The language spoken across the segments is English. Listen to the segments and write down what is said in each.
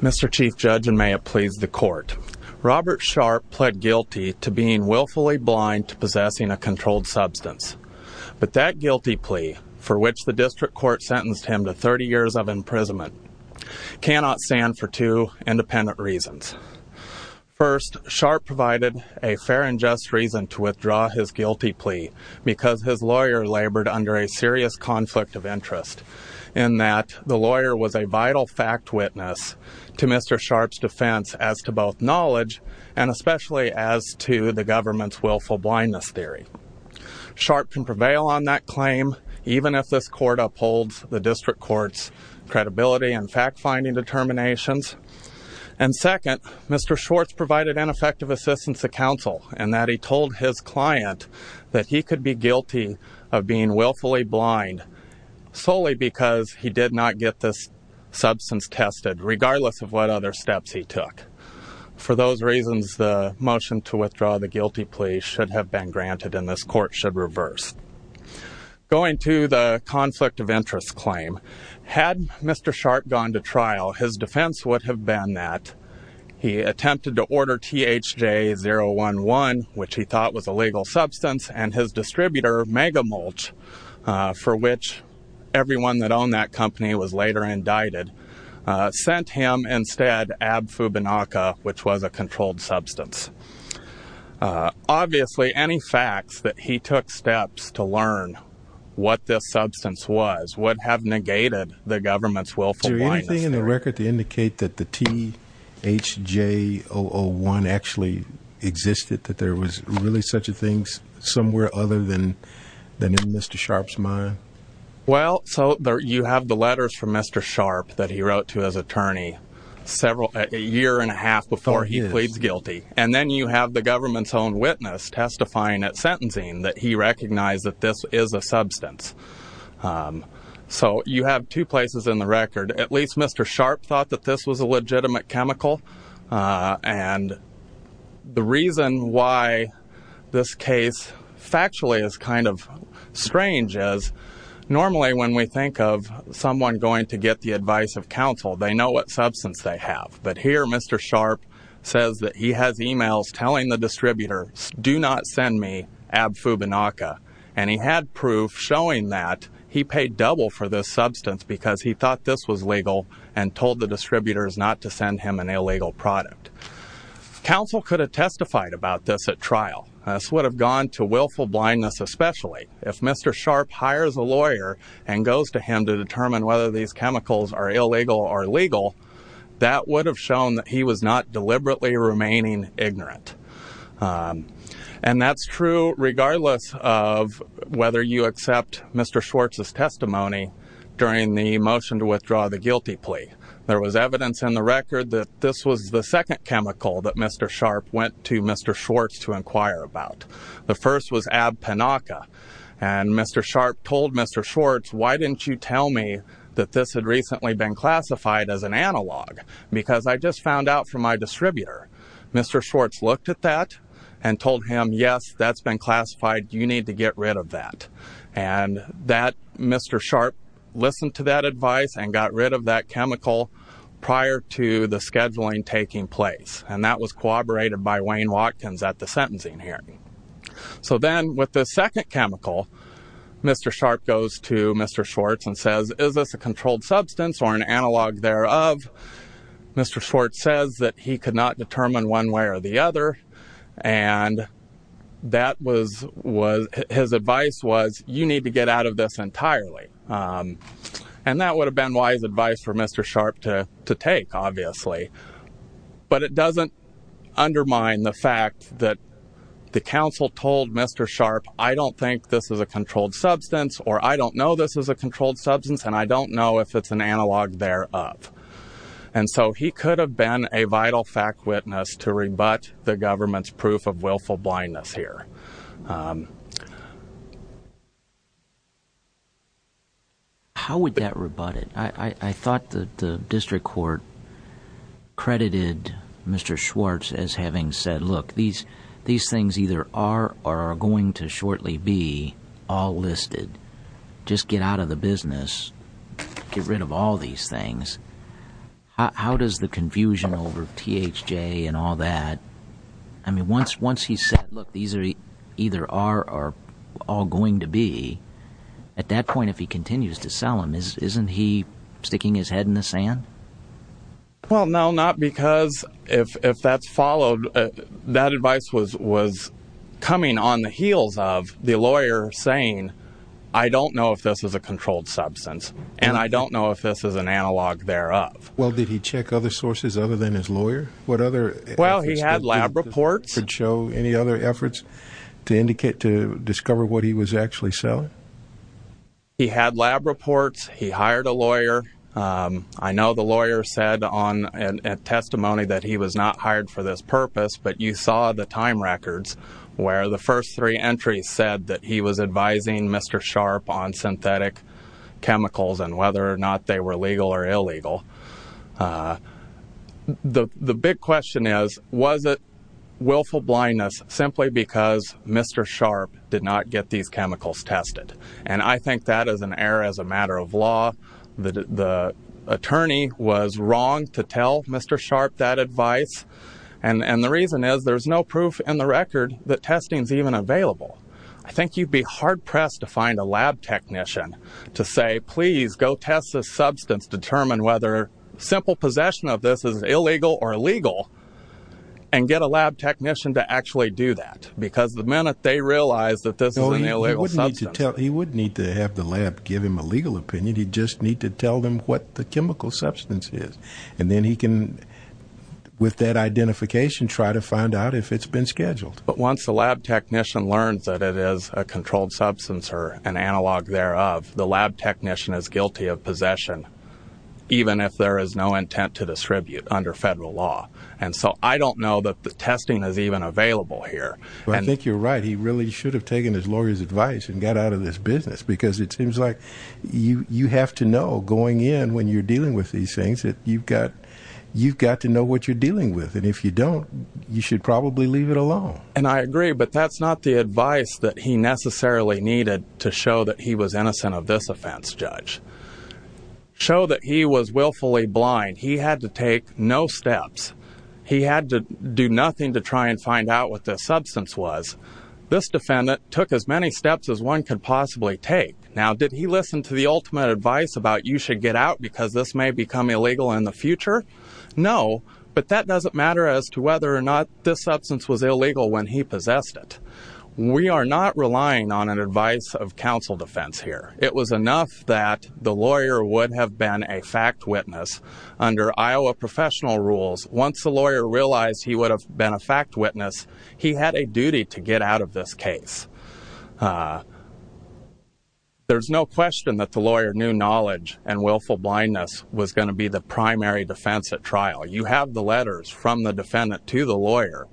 Mr. Chief Judge, and may it please the Court, Robert Sharp pled guilty to being willfully blind to possessing a controlled substance, but that guilty plea, for which the District Court sentenced him to 30 years of imprisonment, cannot stand for two independent reasons. First, Sharp provided a fair and just reason to withdraw his guilty plea because his lawyer labored under a serious conflict of interest in that the lawyer was a vital fact witness to Mr. Sharp's defense as to both knowledge and especially as to the government's willful blindness theory. Sharp can prevail on that claim even if this Court upholds the District Court's credibility and fact-finding determinations. And second, Mr. Schwartz provided ineffective assistance to counsel in that he told his client that he could be guilty of being willfully blind solely because he did not get this substance tested, regardless of what other steps he took. For those reasons, the motion to withdraw the guilty plea should have been granted and this Court should reverse. Going to the conflict of interest claim, had Mr. Sharp gone to trial, his defense would have been that he attempted to order THJ-011, which he thought was a legal substance, and his distributor, Megamulch, for which everyone that owned that company was later indicted, sent him instead Abfubinaca, which was a controlled substance. Obviously, any facts that he took steps to learn what this substance was would have negated the government's willful blindness theory. Is there anything in the record to indicate that the THJ-001 actually existed, that there was really such a thing somewhere other than in Mr. Sharp's mind? Well, so you have the letters from Mr. Sharp that he wrote to his attorney a year and a half before he pleads guilty. And then you have the government's own witness testifying at sentencing that he recognized that this is a substance. So, you have two places in the record. At least Mr. Sharp thought that this was a legitimate chemical. And the reason why this case factually is kind of strange is, normally when we think of someone going to get the advice of counsel, they know what substance they have. But here, Mr. Sharp says that he has emails telling the distributor, do not send me Abfubinaca. And he had proof showing that he paid double for this substance because he thought this was legal and told the distributors not to send him an illegal product. Counsel could have testified about this at trial. This would have gone to willful blindness especially. If Mr. Sharp hires a lawyer and goes to him to determine whether these chemicals are illegal or legal, that would have shown that he was not deliberately remaining ignorant. And that's true regardless of whether you accept Mr. Schwartz's testimony during the motion to withdraw the guilty plea. There was evidence in the record that this was the second chemical that Mr. Sharp went to Mr. Schwartz to inquire about. The first was Abfubinaca. And Mr. Sharp told Mr. Schwartz, why didn't you tell me that this had recently been classified as an analog? Because I just found out from my distributor. Mr. Schwartz looked at that and told him, yes, that's been classified. You need to get rid of that. And Mr. Sharp listened to that advice and got rid of that chemical prior to the scheduling taking place. And that was corroborated by Wayne Watkins at the sentencing hearing. So then with the second chemical, Mr. Sharp goes to Mr. Schwartz and says, is this a controlled substance or an analog thereof? Mr. Schwartz says that he could not determine one way or the other. And his advice was, you need to get out of this entirely. And that would have been wise advice for Mr. Sharp to take, obviously. But it doesn't undermine the fact that the counsel told Mr. Sharp, I don't think this is a controlled substance, or I don't know this is a controlled substance, and I don't know if it's an analog thereof. And so he could have been a vital fact witness to rebut the government's proof of willful blindness here. How would that rebut it? I thought the district court credited Mr. Schwartz as having said, look, these things either are or are going to shortly be all listed. Just get out of the business. Get rid of all these things. How does the confusion over THJ and all that, I mean, once he said, look, these either are or are going to be, at that point if he continues to sell them, isn't he sticking his head in the sand? Well, no, not because, if that's followed, that advice was coming on the heels of the I don't know if this is a controlled substance, and I don't know if this is an analog thereof. Well, did he check other sources other than his lawyer? What other efforts? Well, he had lab reports. Could show any other efforts to indicate, to discover what he was actually selling? He had lab reports. He hired a lawyer. I know the lawyer said on testimony that he was not hired for this purpose, but you saw the time records where the first three entries said that he was advising Mr. Sharpe on synthetic chemicals and whether or not they were legal or illegal. The big question is, was it willful blindness simply because Mr. Sharpe did not get these chemicals tested? And I think that is an error as a matter of law. The attorney was wrong to tell Mr. Sharpe that advice. And the reason is, there's no proof in the record that testing is even available. I think you'd be hard-pressed to find a lab technician to say, please, go test this substance, determine whether simple possession of this is illegal or legal, and get a lab technician to actually do that. Because the minute they realize that this is an illegal substance. He wouldn't need to have the lab give him a legal opinion, he'd just need to tell them what the chemical substance is. And then he can, with that identification, try to find out if it's been scheduled. But once the lab technician learns that it is a controlled substance or an analog thereof, the lab technician is guilty of possession, even if there is no intent to distribute under federal law. And so I don't know that the testing is even available here. I think you're right. He really should have taken his lawyer's advice and got out of this business, because it seems like you have to know, going in, when you're dealing with these things, that you've got to know what you're dealing with, and if you don't, you should probably leave it alone. And I agree, but that's not the advice that he necessarily needed to show that he was innocent of this offense, Judge. Show that he was willfully blind. He had to take no steps. He had to do nothing to try and find out what this substance was. This defendant took as many steps as one could possibly take. Now, did he listen to the ultimate advice about you should get out because this may become illegal in the future? No, but that doesn't matter as to whether or not this substance was illegal when he possessed it. We are not relying on an advice of counsel defense here. It was enough that the lawyer would have been a fact witness under Iowa professional rules. Once the lawyer realized he would have been a fact witness, he had a duty to get out of this case. There's no question that the lawyer knew knowledge and willful blindness was going to be the primary defense at trial. You have the letters from the defendant to the lawyer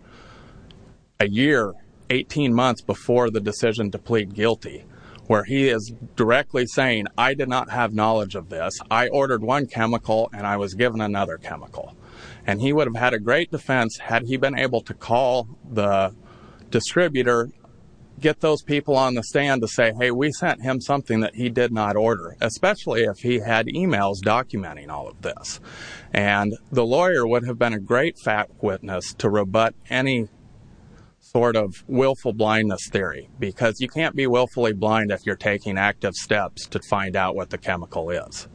a year, 18 months before the decision to plead guilty, where he is directly saying, I did not have knowledge of this. I ordered one chemical, and I was given another chemical. And he would have had a great defense had he been able to call the distributor, get those people on the stand to say, hey, we sent him something that he did not order, especially if he had emails documenting all of this. And the lawyer would have been a great fact witness to rebut any sort of willful blindness theory because you can't be willfully blind if you're taking active steps to find out what the chemical is.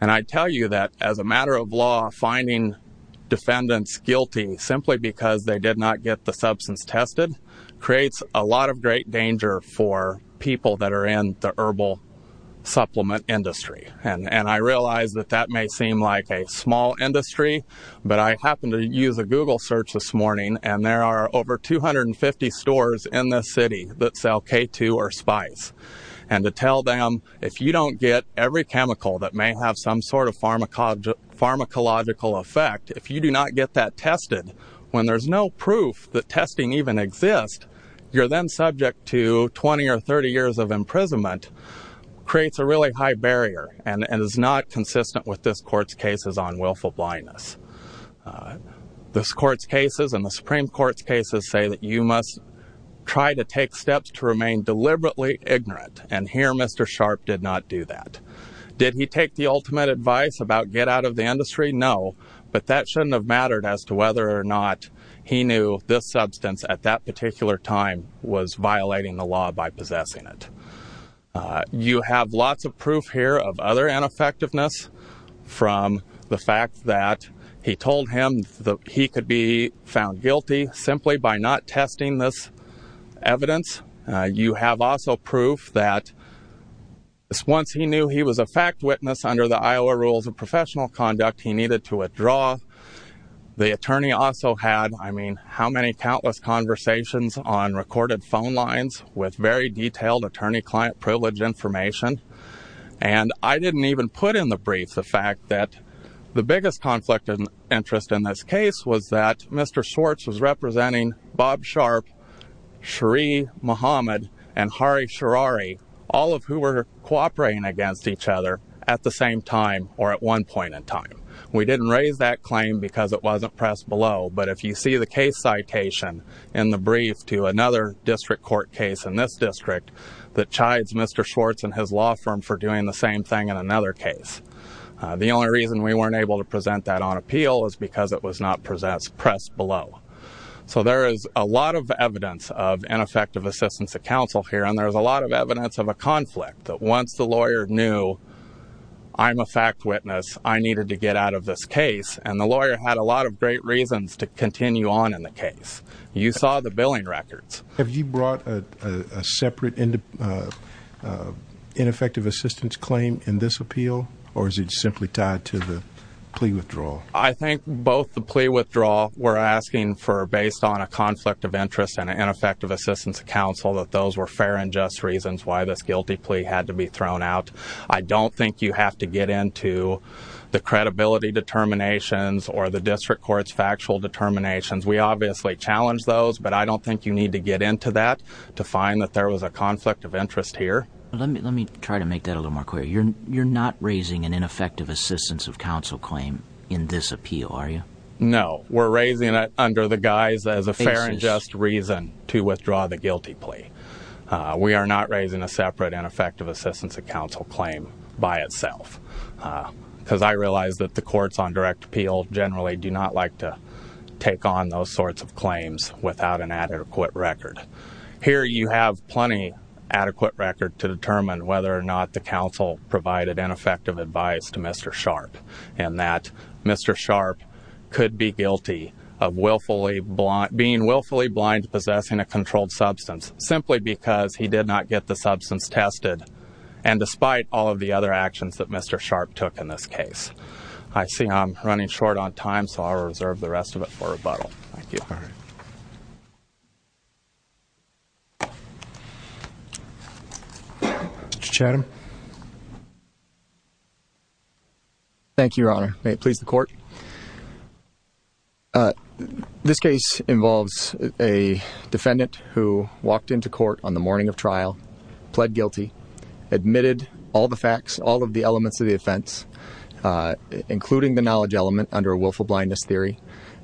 And I tell you that as a matter of law, finding defendants guilty simply because they did not get the substance tested creates a lot of great danger for people that are in the herbal supplement industry. And I realize that that may seem like a small industry, but I happened to use a Google search this morning, and there are over 250 stores in this city that sell K2 or Spice. And to tell them, if you don't get every chemical that may have some sort of pharmacological effect, if you do not get that tested, when there's no proof that testing even exists, you're then subject to 20 or 30 years of imprisonment, creates a really high barrier and is not consistent with this court's cases on willful blindness. This court's cases and the Supreme Court's cases say that you must try to take steps to remain deliberately ignorant, and here Mr. Sharp did not do that. Did he take the ultimate advice about get out of the industry? No, but that shouldn't have mattered as to whether or not he knew this substance at that particular time was violating the law by possessing it. You have lots of proof here of other ineffectiveness from the fact that he told him that he could be found guilty simply by not testing this evidence. You have also proof that once he knew he was a fact witness under the Iowa rules of professional conduct, he needed to withdraw. The attorney also had, I mean, how many countless conversations on recorded phone lines with very detailed attorney-client privilege information? And I didn't even put in the brief the fact that the biggest conflict of interest in this case was that Mr. Schwartz was representing Bob Sharp, Sheree Mohamed, and Hari Sharari, all of who were cooperating against each other at the same time or at one point in time. We didn't raise that claim because it wasn't pressed below, but if you see the case citation in the brief to another district court case in this district that chides Mr. Schwartz and his law firm for doing the same thing in another case, the only reason we weren't able to present that on appeal is because it was not pressed below. So there is a lot of evidence of ineffective assistance of counsel here, and there's a lot of evidence of a conflict, that once the lawyer knew I'm a fact witness, I needed to get out of this case, and the lawyer had a lot of great reasons to continue on in the case. You saw the billing records. Have you brought a separate ineffective assistance claim in this appeal, or is it simply tied to the plea withdrawal? I think both the plea withdrawal, we're asking for, based on a conflict of interest and ineffective assistance of counsel, that those were fair and just reasons why this guilty plea had to be thrown out. I don't think you have to get into the credibility determinations or the district court's factual determinations. We obviously challenge those, but I don't think you need to get into that to find that there was a conflict of interest here. Let me try to make that a little more clear. You're not raising an ineffective assistance of counsel claim in this appeal, are you? No. We're raising it under the guise as a fair and just reason to withdraw the guilty plea. We are not raising a separate ineffective assistance of counsel claim by itself, because I realize that the courts on direct appeal generally do not like to take on those sorts of claims without an adequate record. Here you have plenty of adequate record to determine whether or not the counsel provided ineffective advice to Mr. Sharpe, and that Mr. Sharpe could be guilty of being willfully blind to possessing a controlled substance, simply because he did not get the substance tested and despite all of the other actions that Mr. Sharpe took in this case. I see I'm running short on time, so I'll reserve the rest of it for rebuttal. Thank you. Mr. Chatham? Thank you, Your Honor. May it please the court. This case involves a defendant who walked into court on the morning of trial, pled guilty, admitted all the facts, all of the elements of the offense, including the knowledge element under a willful blindness theory.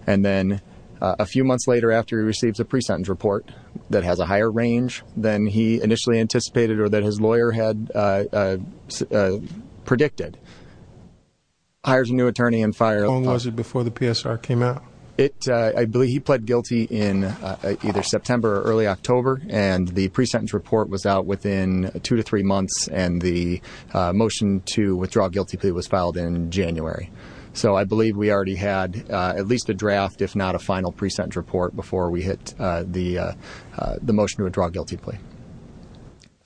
And then a few months later after he receives a pre-sentence report that has a higher range than he initially anticipated or that his lawyer had predicted, hires a new attorney and files... How long was it before the PSR came out? I believe he pled guilty in either September or early October, and the pre-sentence report was out within two to three months, and the motion to withdraw a guilty plea was filed in January. So I believe we already had at least a draft, if not a final pre-sentence report, before we hit the motion to withdraw a guilty plea.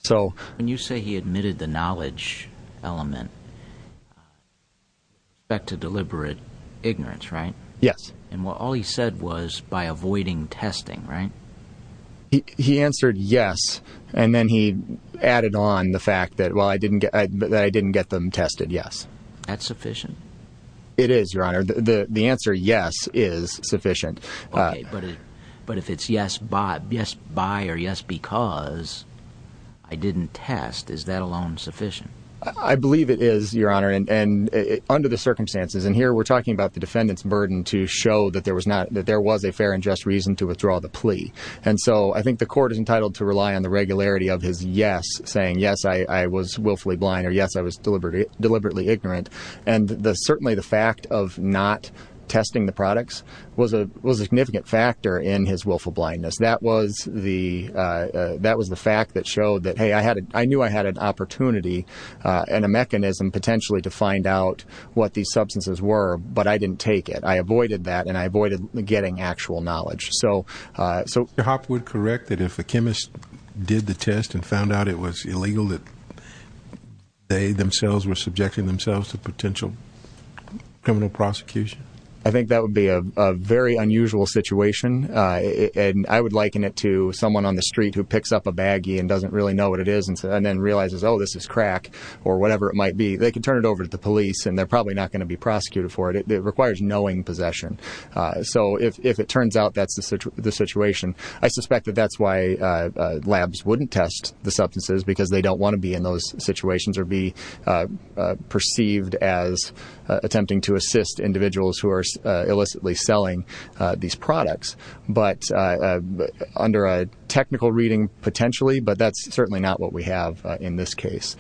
So... When you say he admitted the knowledge element, you expect a deliberate ignorance, right? Yes. And all he said was, by avoiding testing, right? He answered yes, and then he added on the fact that, well, I didn't get them tested, yes. That's sufficient? It is, Your Honor. The answer yes is sufficient. Okay, but if it's yes by or yes because I didn't test, is that alone sufficient? I believe it is, Your Honor, and under the circumstances, and here we're talking about the defendant's burden to show that there was a fair and just reason to withdraw the plea. And so I think the court is entitled to rely on the regularity of his yes, saying, yes, I was willfully blind, or yes, I was deliberately ignorant, and certainly the fact of not testing the products was a significant factor in his willful blindness. That was the fact that showed that, hey, I knew I had an opportunity and a mechanism potentially to find out what these substances were, but I didn't take it. I avoided that, and I avoided getting actual knowledge. So... Mr. Hopwood, correct that if a chemist did the test and found out it was illegal, that they themselves were subjecting themselves to potential criminal prosecution? I think that would be a very unusual situation, and I would liken it to someone on the street who picks up a baggie and doesn't really know what it is and then realizes, oh, this is crack or whatever it might be. They could turn it over to the police, and they're probably not going to be prosecuted for it. It requires knowing possession. So if it turns out that's the situation, I suspect that that's why labs wouldn't test the substances because they don't want to be in those situations or be perceived as attempting to assist individuals who are illicitly selling these products, but under a technical reading, potentially, but that's certainly not what we have in this case.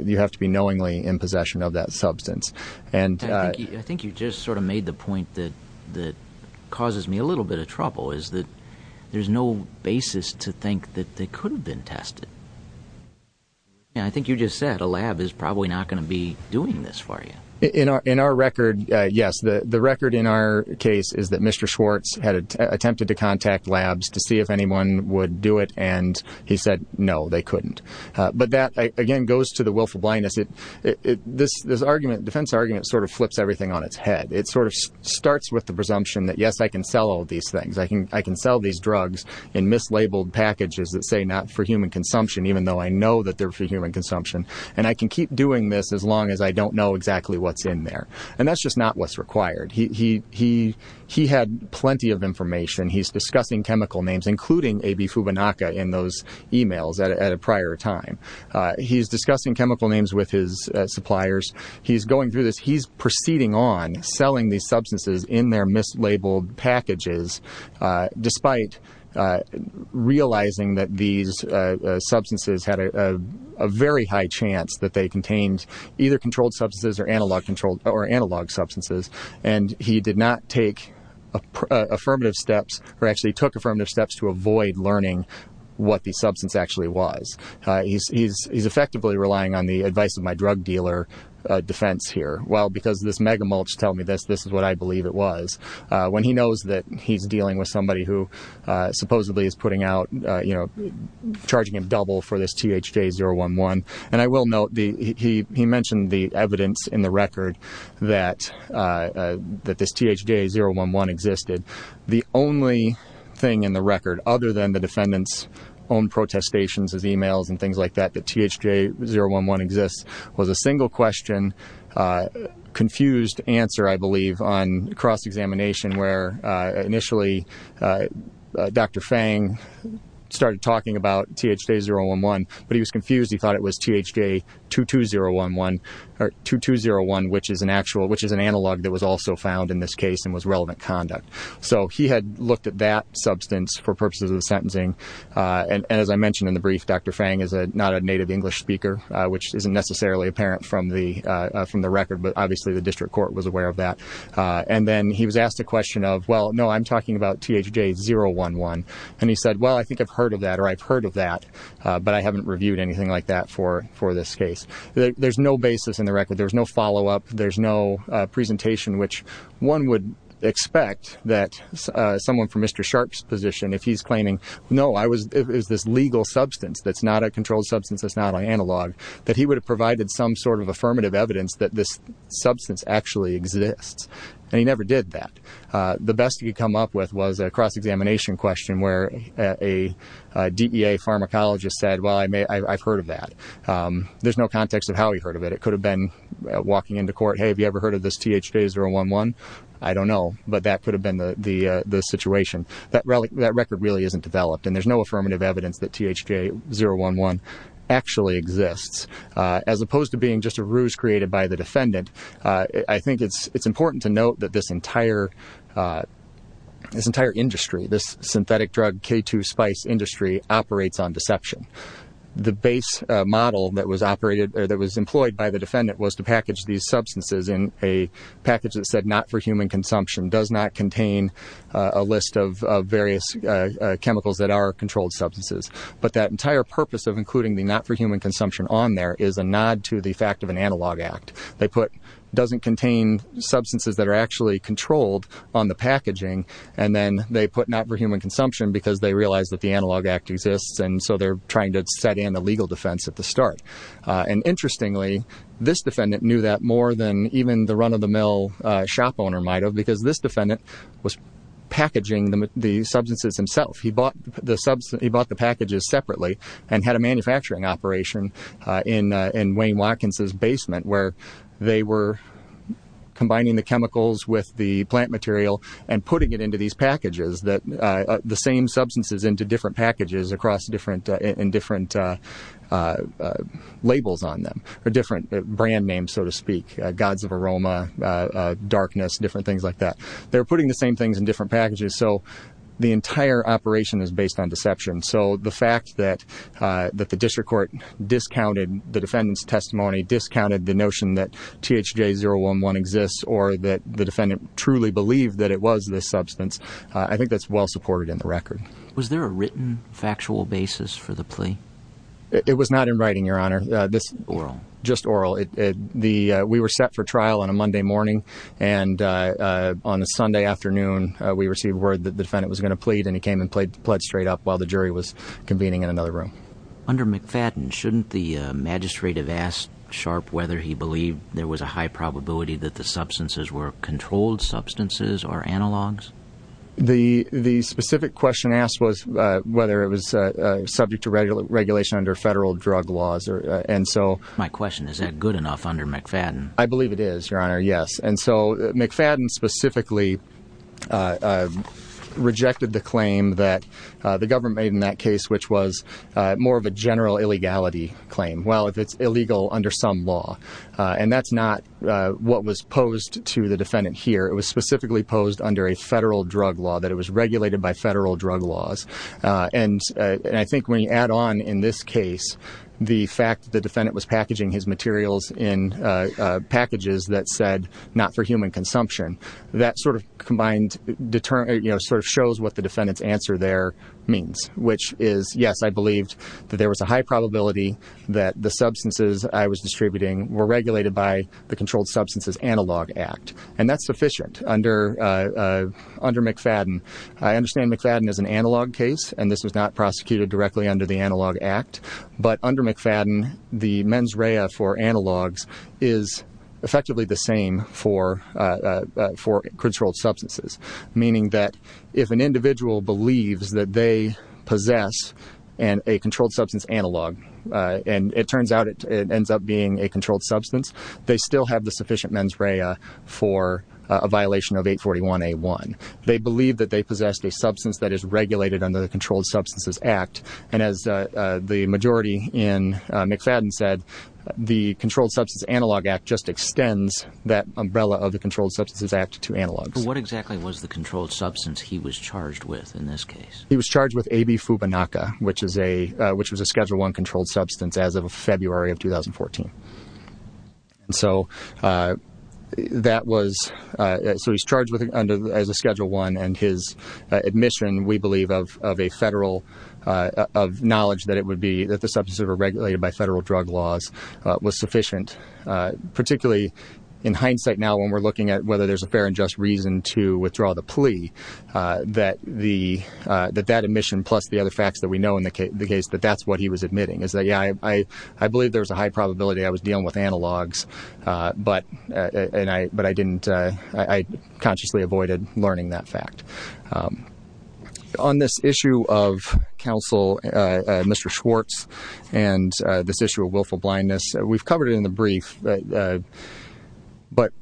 You have to be knowingly in possession of that substance. I think you just sort of made the point that causes me a little bit of trouble, is that there's no basis to think that they could have been tested. I think you just said a lab is probably not going to be doing this for you. In our record, yes, the record in our case is that Mr. Schwartz had attempted to contact labs to see if anyone would do it, and he said no, they couldn't. But that, again, goes to the willful blindness. This argument, defense argument, sort of flips everything on its head. It sort of starts with the presumption that, yes, I can sell all these things. I can sell these drugs in mislabeled packages that say not for human consumption, even though I know that they're for human consumption, and I can keep doing this as long as I don't know exactly what's in there. And that's just not what's required. He had plenty of information. He's discussing chemical names, including AB Fubanaca in those emails at a prior time. He's discussing chemical names with his suppliers. He's going through this. He's proceeding on selling these substances in their mislabeled packages, despite realizing that these substances had a very high chance that they contained either controlled substances or analog substances, and he did not take affirmative steps, or actually took affirmative steps to avoid learning what the substance actually was. He's effectively relying on the advice of my drug dealer defense here. Well, because this mega-mulch told me this, this is what I believe it was. When he knows that he's dealing with somebody who supposedly is putting out, you know, charging him double for this THJ-011, and I will note, he mentioned the evidence in the record that this THJ-011 existed. The only thing in the record, other than the defendant's own protestations, his emails and things like that, that THJ-011 exists, was a single question, confused answer, I imagine, where initially Dr. Fang started talking about THJ-011, but he was confused. He thought it was THJ-2201, which is an analog that was also found in this case, and was relevant conduct. So he had looked at that substance for purposes of the sentencing, and as I mentioned in the brief, Dr. Fang is not a native English speaker, which isn't necessarily apparent from the record, but obviously the district court was aware of that. And then he was asked a question of, well, no, I'm talking about THJ-011, and he said, well, I think I've heard of that, or I've heard of that, but I haven't reviewed anything like that for this case. There's no basis in the record, there's no follow-up, there's no presentation which one would expect that someone from Mr. Sharp's position, if he's claiming, no, it was this legal substance that's not a controlled substance, that's not an analog, that he would have provided some sort of affirmative evidence that this substance actually exists, and he never did that. The best he could come up with was a cross-examination question where a DEA pharmacologist said, well, I've heard of that. There's no context of how he heard of it. It could have been walking into court, hey, have you ever heard of this THJ-011? I don't know, but that could have been the situation. That record really isn't developed, and there's no affirmative evidence that THJ-011 actually exists. As opposed to being just a ruse created by the defendant, I think it's important to note that this entire industry, this synthetic drug, K2 spice industry, operates on deception. The base model that was employed by the defendant was to package these substances in a package that said not for human consumption, does not contain a list of various chemicals that are controlled substances. But that entire purpose of including the not for human consumption on there is a nod to the fact of an analog act. They put doesn't contain substances that are actually controlled on the packaging, and then they put not for human consumption because they realized that the analog act exists, and so they're trying to set in a legal defense at the start. And interestingly, this defendant knew that more than even the run-of-the-mill shop owner might have, because this defendant was packaging the substances himself. He bought the packages separately and had a manufacturing operation in Wayne Watkins' basement where they were combining the chemicals with the plant material and putting it into these packages, the same substances into different packages in different labels on them, or different brand names, so to speak, gods of aroma, darkness, different things like that. They were putting the same things in different packages. So the entire operation is based on deception. So the fact that the district court discounted the defendant's testimony, discounted the notion that THJ-011 exists or that the defendant truly believed that it was this substance, I think that's well-supported in the record. Was there a written factual basis for the plea? It was not in writing, Your Honor. Oral? Just oral. We were set for trial on a Monday morning, and on a Sunday afternoon, we received word that the defendant was going to plead, and he came and pled straight up while the jury was convening in another room. Under McFadden, shouldn't the magistrate have asked Sharp whether he believed there was a high probability that the substances were controlled substances or analogs? The specific question asked was whether it was subject to regulation under federal drug laws. My question, is that good enough under McFadden? I believe it is, Your Honor, yes. And so McFadden specifically rejected the claim that the government made in that case, which was more of a general illegality claim, well, if it's illegal under some law. And that's not what was posed to the defendant here. It was specifically posed under a federal drug law, that it was regulated by federal drug laws. And I think when you add on, in this case, the fact that the defendant was packaging his materials in packages that said, not for human consumption, that sort of combined shows what the defendant's answer there means, which is, yes, I believed that there was a high probability that the substances I was distributing were regulated by the Controlled Substances Analog Act. And that's sufficient under McFadden. I understand McFadden is an analog case, and this was not prosecuted directly under the analog act. But under McFadden, the mens rea for analogs is effectively the same for controlled substances, meaning that if an individual believes that they possess a controlled substance analog, and it turns out it ends up being a controlled substance, they still have the sufficient mens rea for a violation of 841A1. They believe that they possess a substance that is regulated under the Controlled Substances Act. And as the majority in McFadden said, the Controlled Substances Analog Act just extends that umbrella of the Controlled Substances Act to analogs. What exactly was the controlled substance he was charged with in this case? He was charged with AB Fubanaca, which was a Schedule I controlled substance as of February of 2014. So, he's charged as a Schedule I, and his admission, we believe, of knowledge that it would be that the substances were regulated by federal drug laws was sufficient, particularly in hindsight now when we're looking at whether there's a fair and just reason to withdraw the plea, that that admission, plus the other facts that we know in the case, that that's what he was admitting. Is that, yeah, I believe there's a high probability I was dealing with analogs, but I consciously avoided learning that fact. On this issue of counsel, Mr. Schwartz, and this issue of willful blindness, we've covered it in the brief, but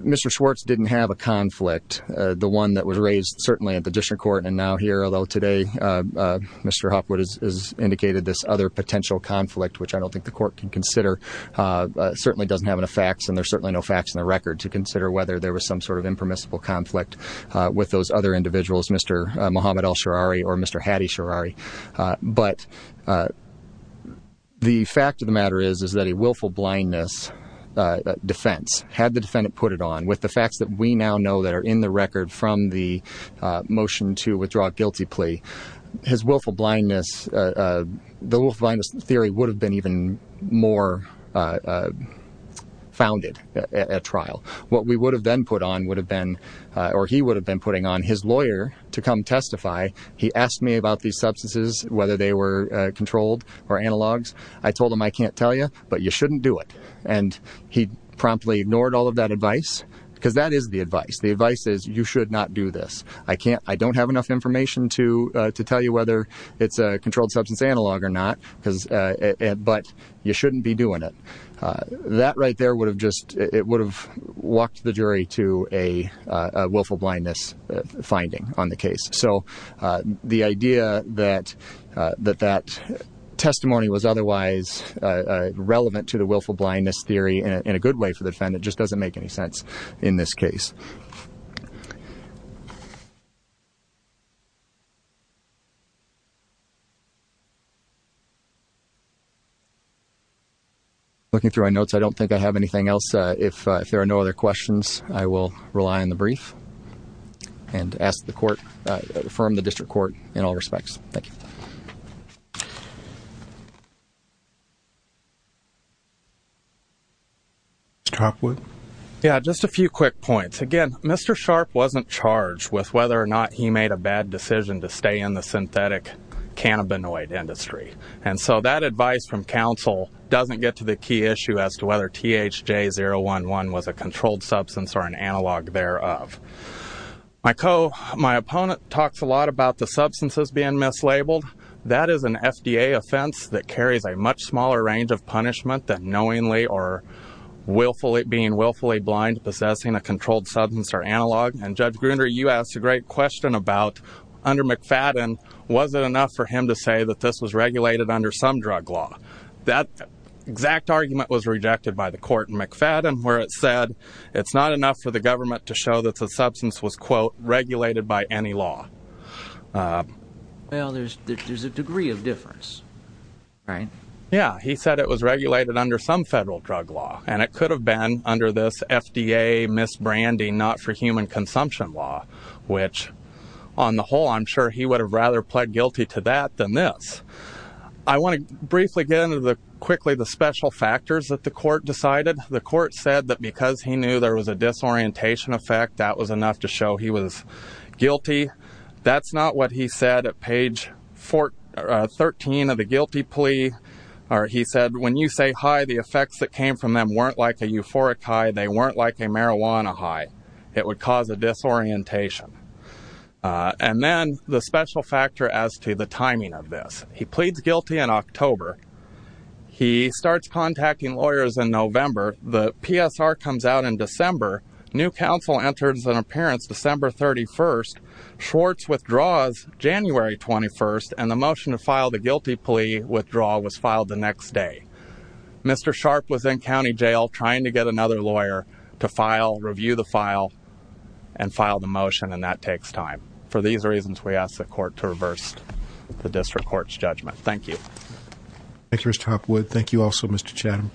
Mr. Schwartz didn't have a conflict, the one that was raised, certainly at the district court, and now here, although today Mr. Hopwood has indicated this other potential conflict, which I don't think the court can consider, certainly doesn't have enough facts, and there's certainly no facts in the record to consider whether there was some sort of impermissible conflict with those other individuals, Mr. Mohamed El-Sharari or Mr. Hadi Sharari. But the fact of the matter is, is that a willful blindness defense, had the defendant put it on, with the facts that we now know that are in the record from the motion to withdraw a guilty plea, his willful blindness, the willful blindness theory would have been even more founded at trial. What we would have then put on would have been, or he would have been putting on his lawyer to come testify, he asked me about these substances, whether they were controlled or analogs, I told him, I can't tell you, but you shouldn't do it. And he promptly ignored all of that advice, because that is the advice, the advice is you should not do this, I can't, I don't have enough information to tell you whether it's a controlled substance analog or not, but you shouldn't be doing it. That right there would have just, it would have walked the jury to a willful blindness finding on the case. So, the idea that, that that testimony was otherwise relevant to the willful blindness theory in a good way for the defendant just doesn't make any sense in this case. Looking through my notes, I don't think I have anything else, if there are no other court, in all respects, thank you. Mr. Hopwood? Yeah, just a few quick points, again, Mr. Sharp wasn't charged with whether or not he made a bad decision to stay in the synthetic cannabinoid industry, and so that advice from counsel doesn't get to the key issue as to whether THJ-011 was a controlled substance or an analog thereof. My opponent talks a lot about the substances being mislabeled, that is an FDA offense that carries a much smaller range of punishment than knowingly or willfully, being willfully blind possessing a controlled substance or analog, and Judge Gruner, you asked a great question about, under McFadden, was it enough for him to say that this was regulated under some drug law? That exact argument was rejected by the court in McFadden, where it said, it's not enough for the government to show that the substance was, quote, regulated by any law. Well, there's a degree of difference, right? Yeah, he said it was regulated under some federal drug law, and it could have been under this FDA misbranding not for human consumption law, which, on the whole, I'm sure he would have rather pled guilty to that than this. I want to briefly get into, quickly, the special factors that the court decided. The court said that because he knew there was a disorientation effect, that was enough to show he was guilty. That's not what he said at page 13 of the guilty plea. He said, when you say hi, the effects that came from them weren't like a euphoric hi, they weren't like a marijuana hi. It would cause a disorientation. And then, the special factor as to the timing of this. He pleads guilty in October. He starts contacting lawyers in November. The PSR comes out in December. New counsel enters an appearance December 31st. Schwartz withdraws January 21st, and the motion to file the guilty plea withdrawal was filed the next day. Mr. Sharp was in county jail trying to get another lawyer to file, review the file, and file the motion, and that takes time. For these reasons, we ask the court to reverse the district court's judgment. Thank you. Thank you, Mr. Hopwood. Thank you also, Mr. Chatham.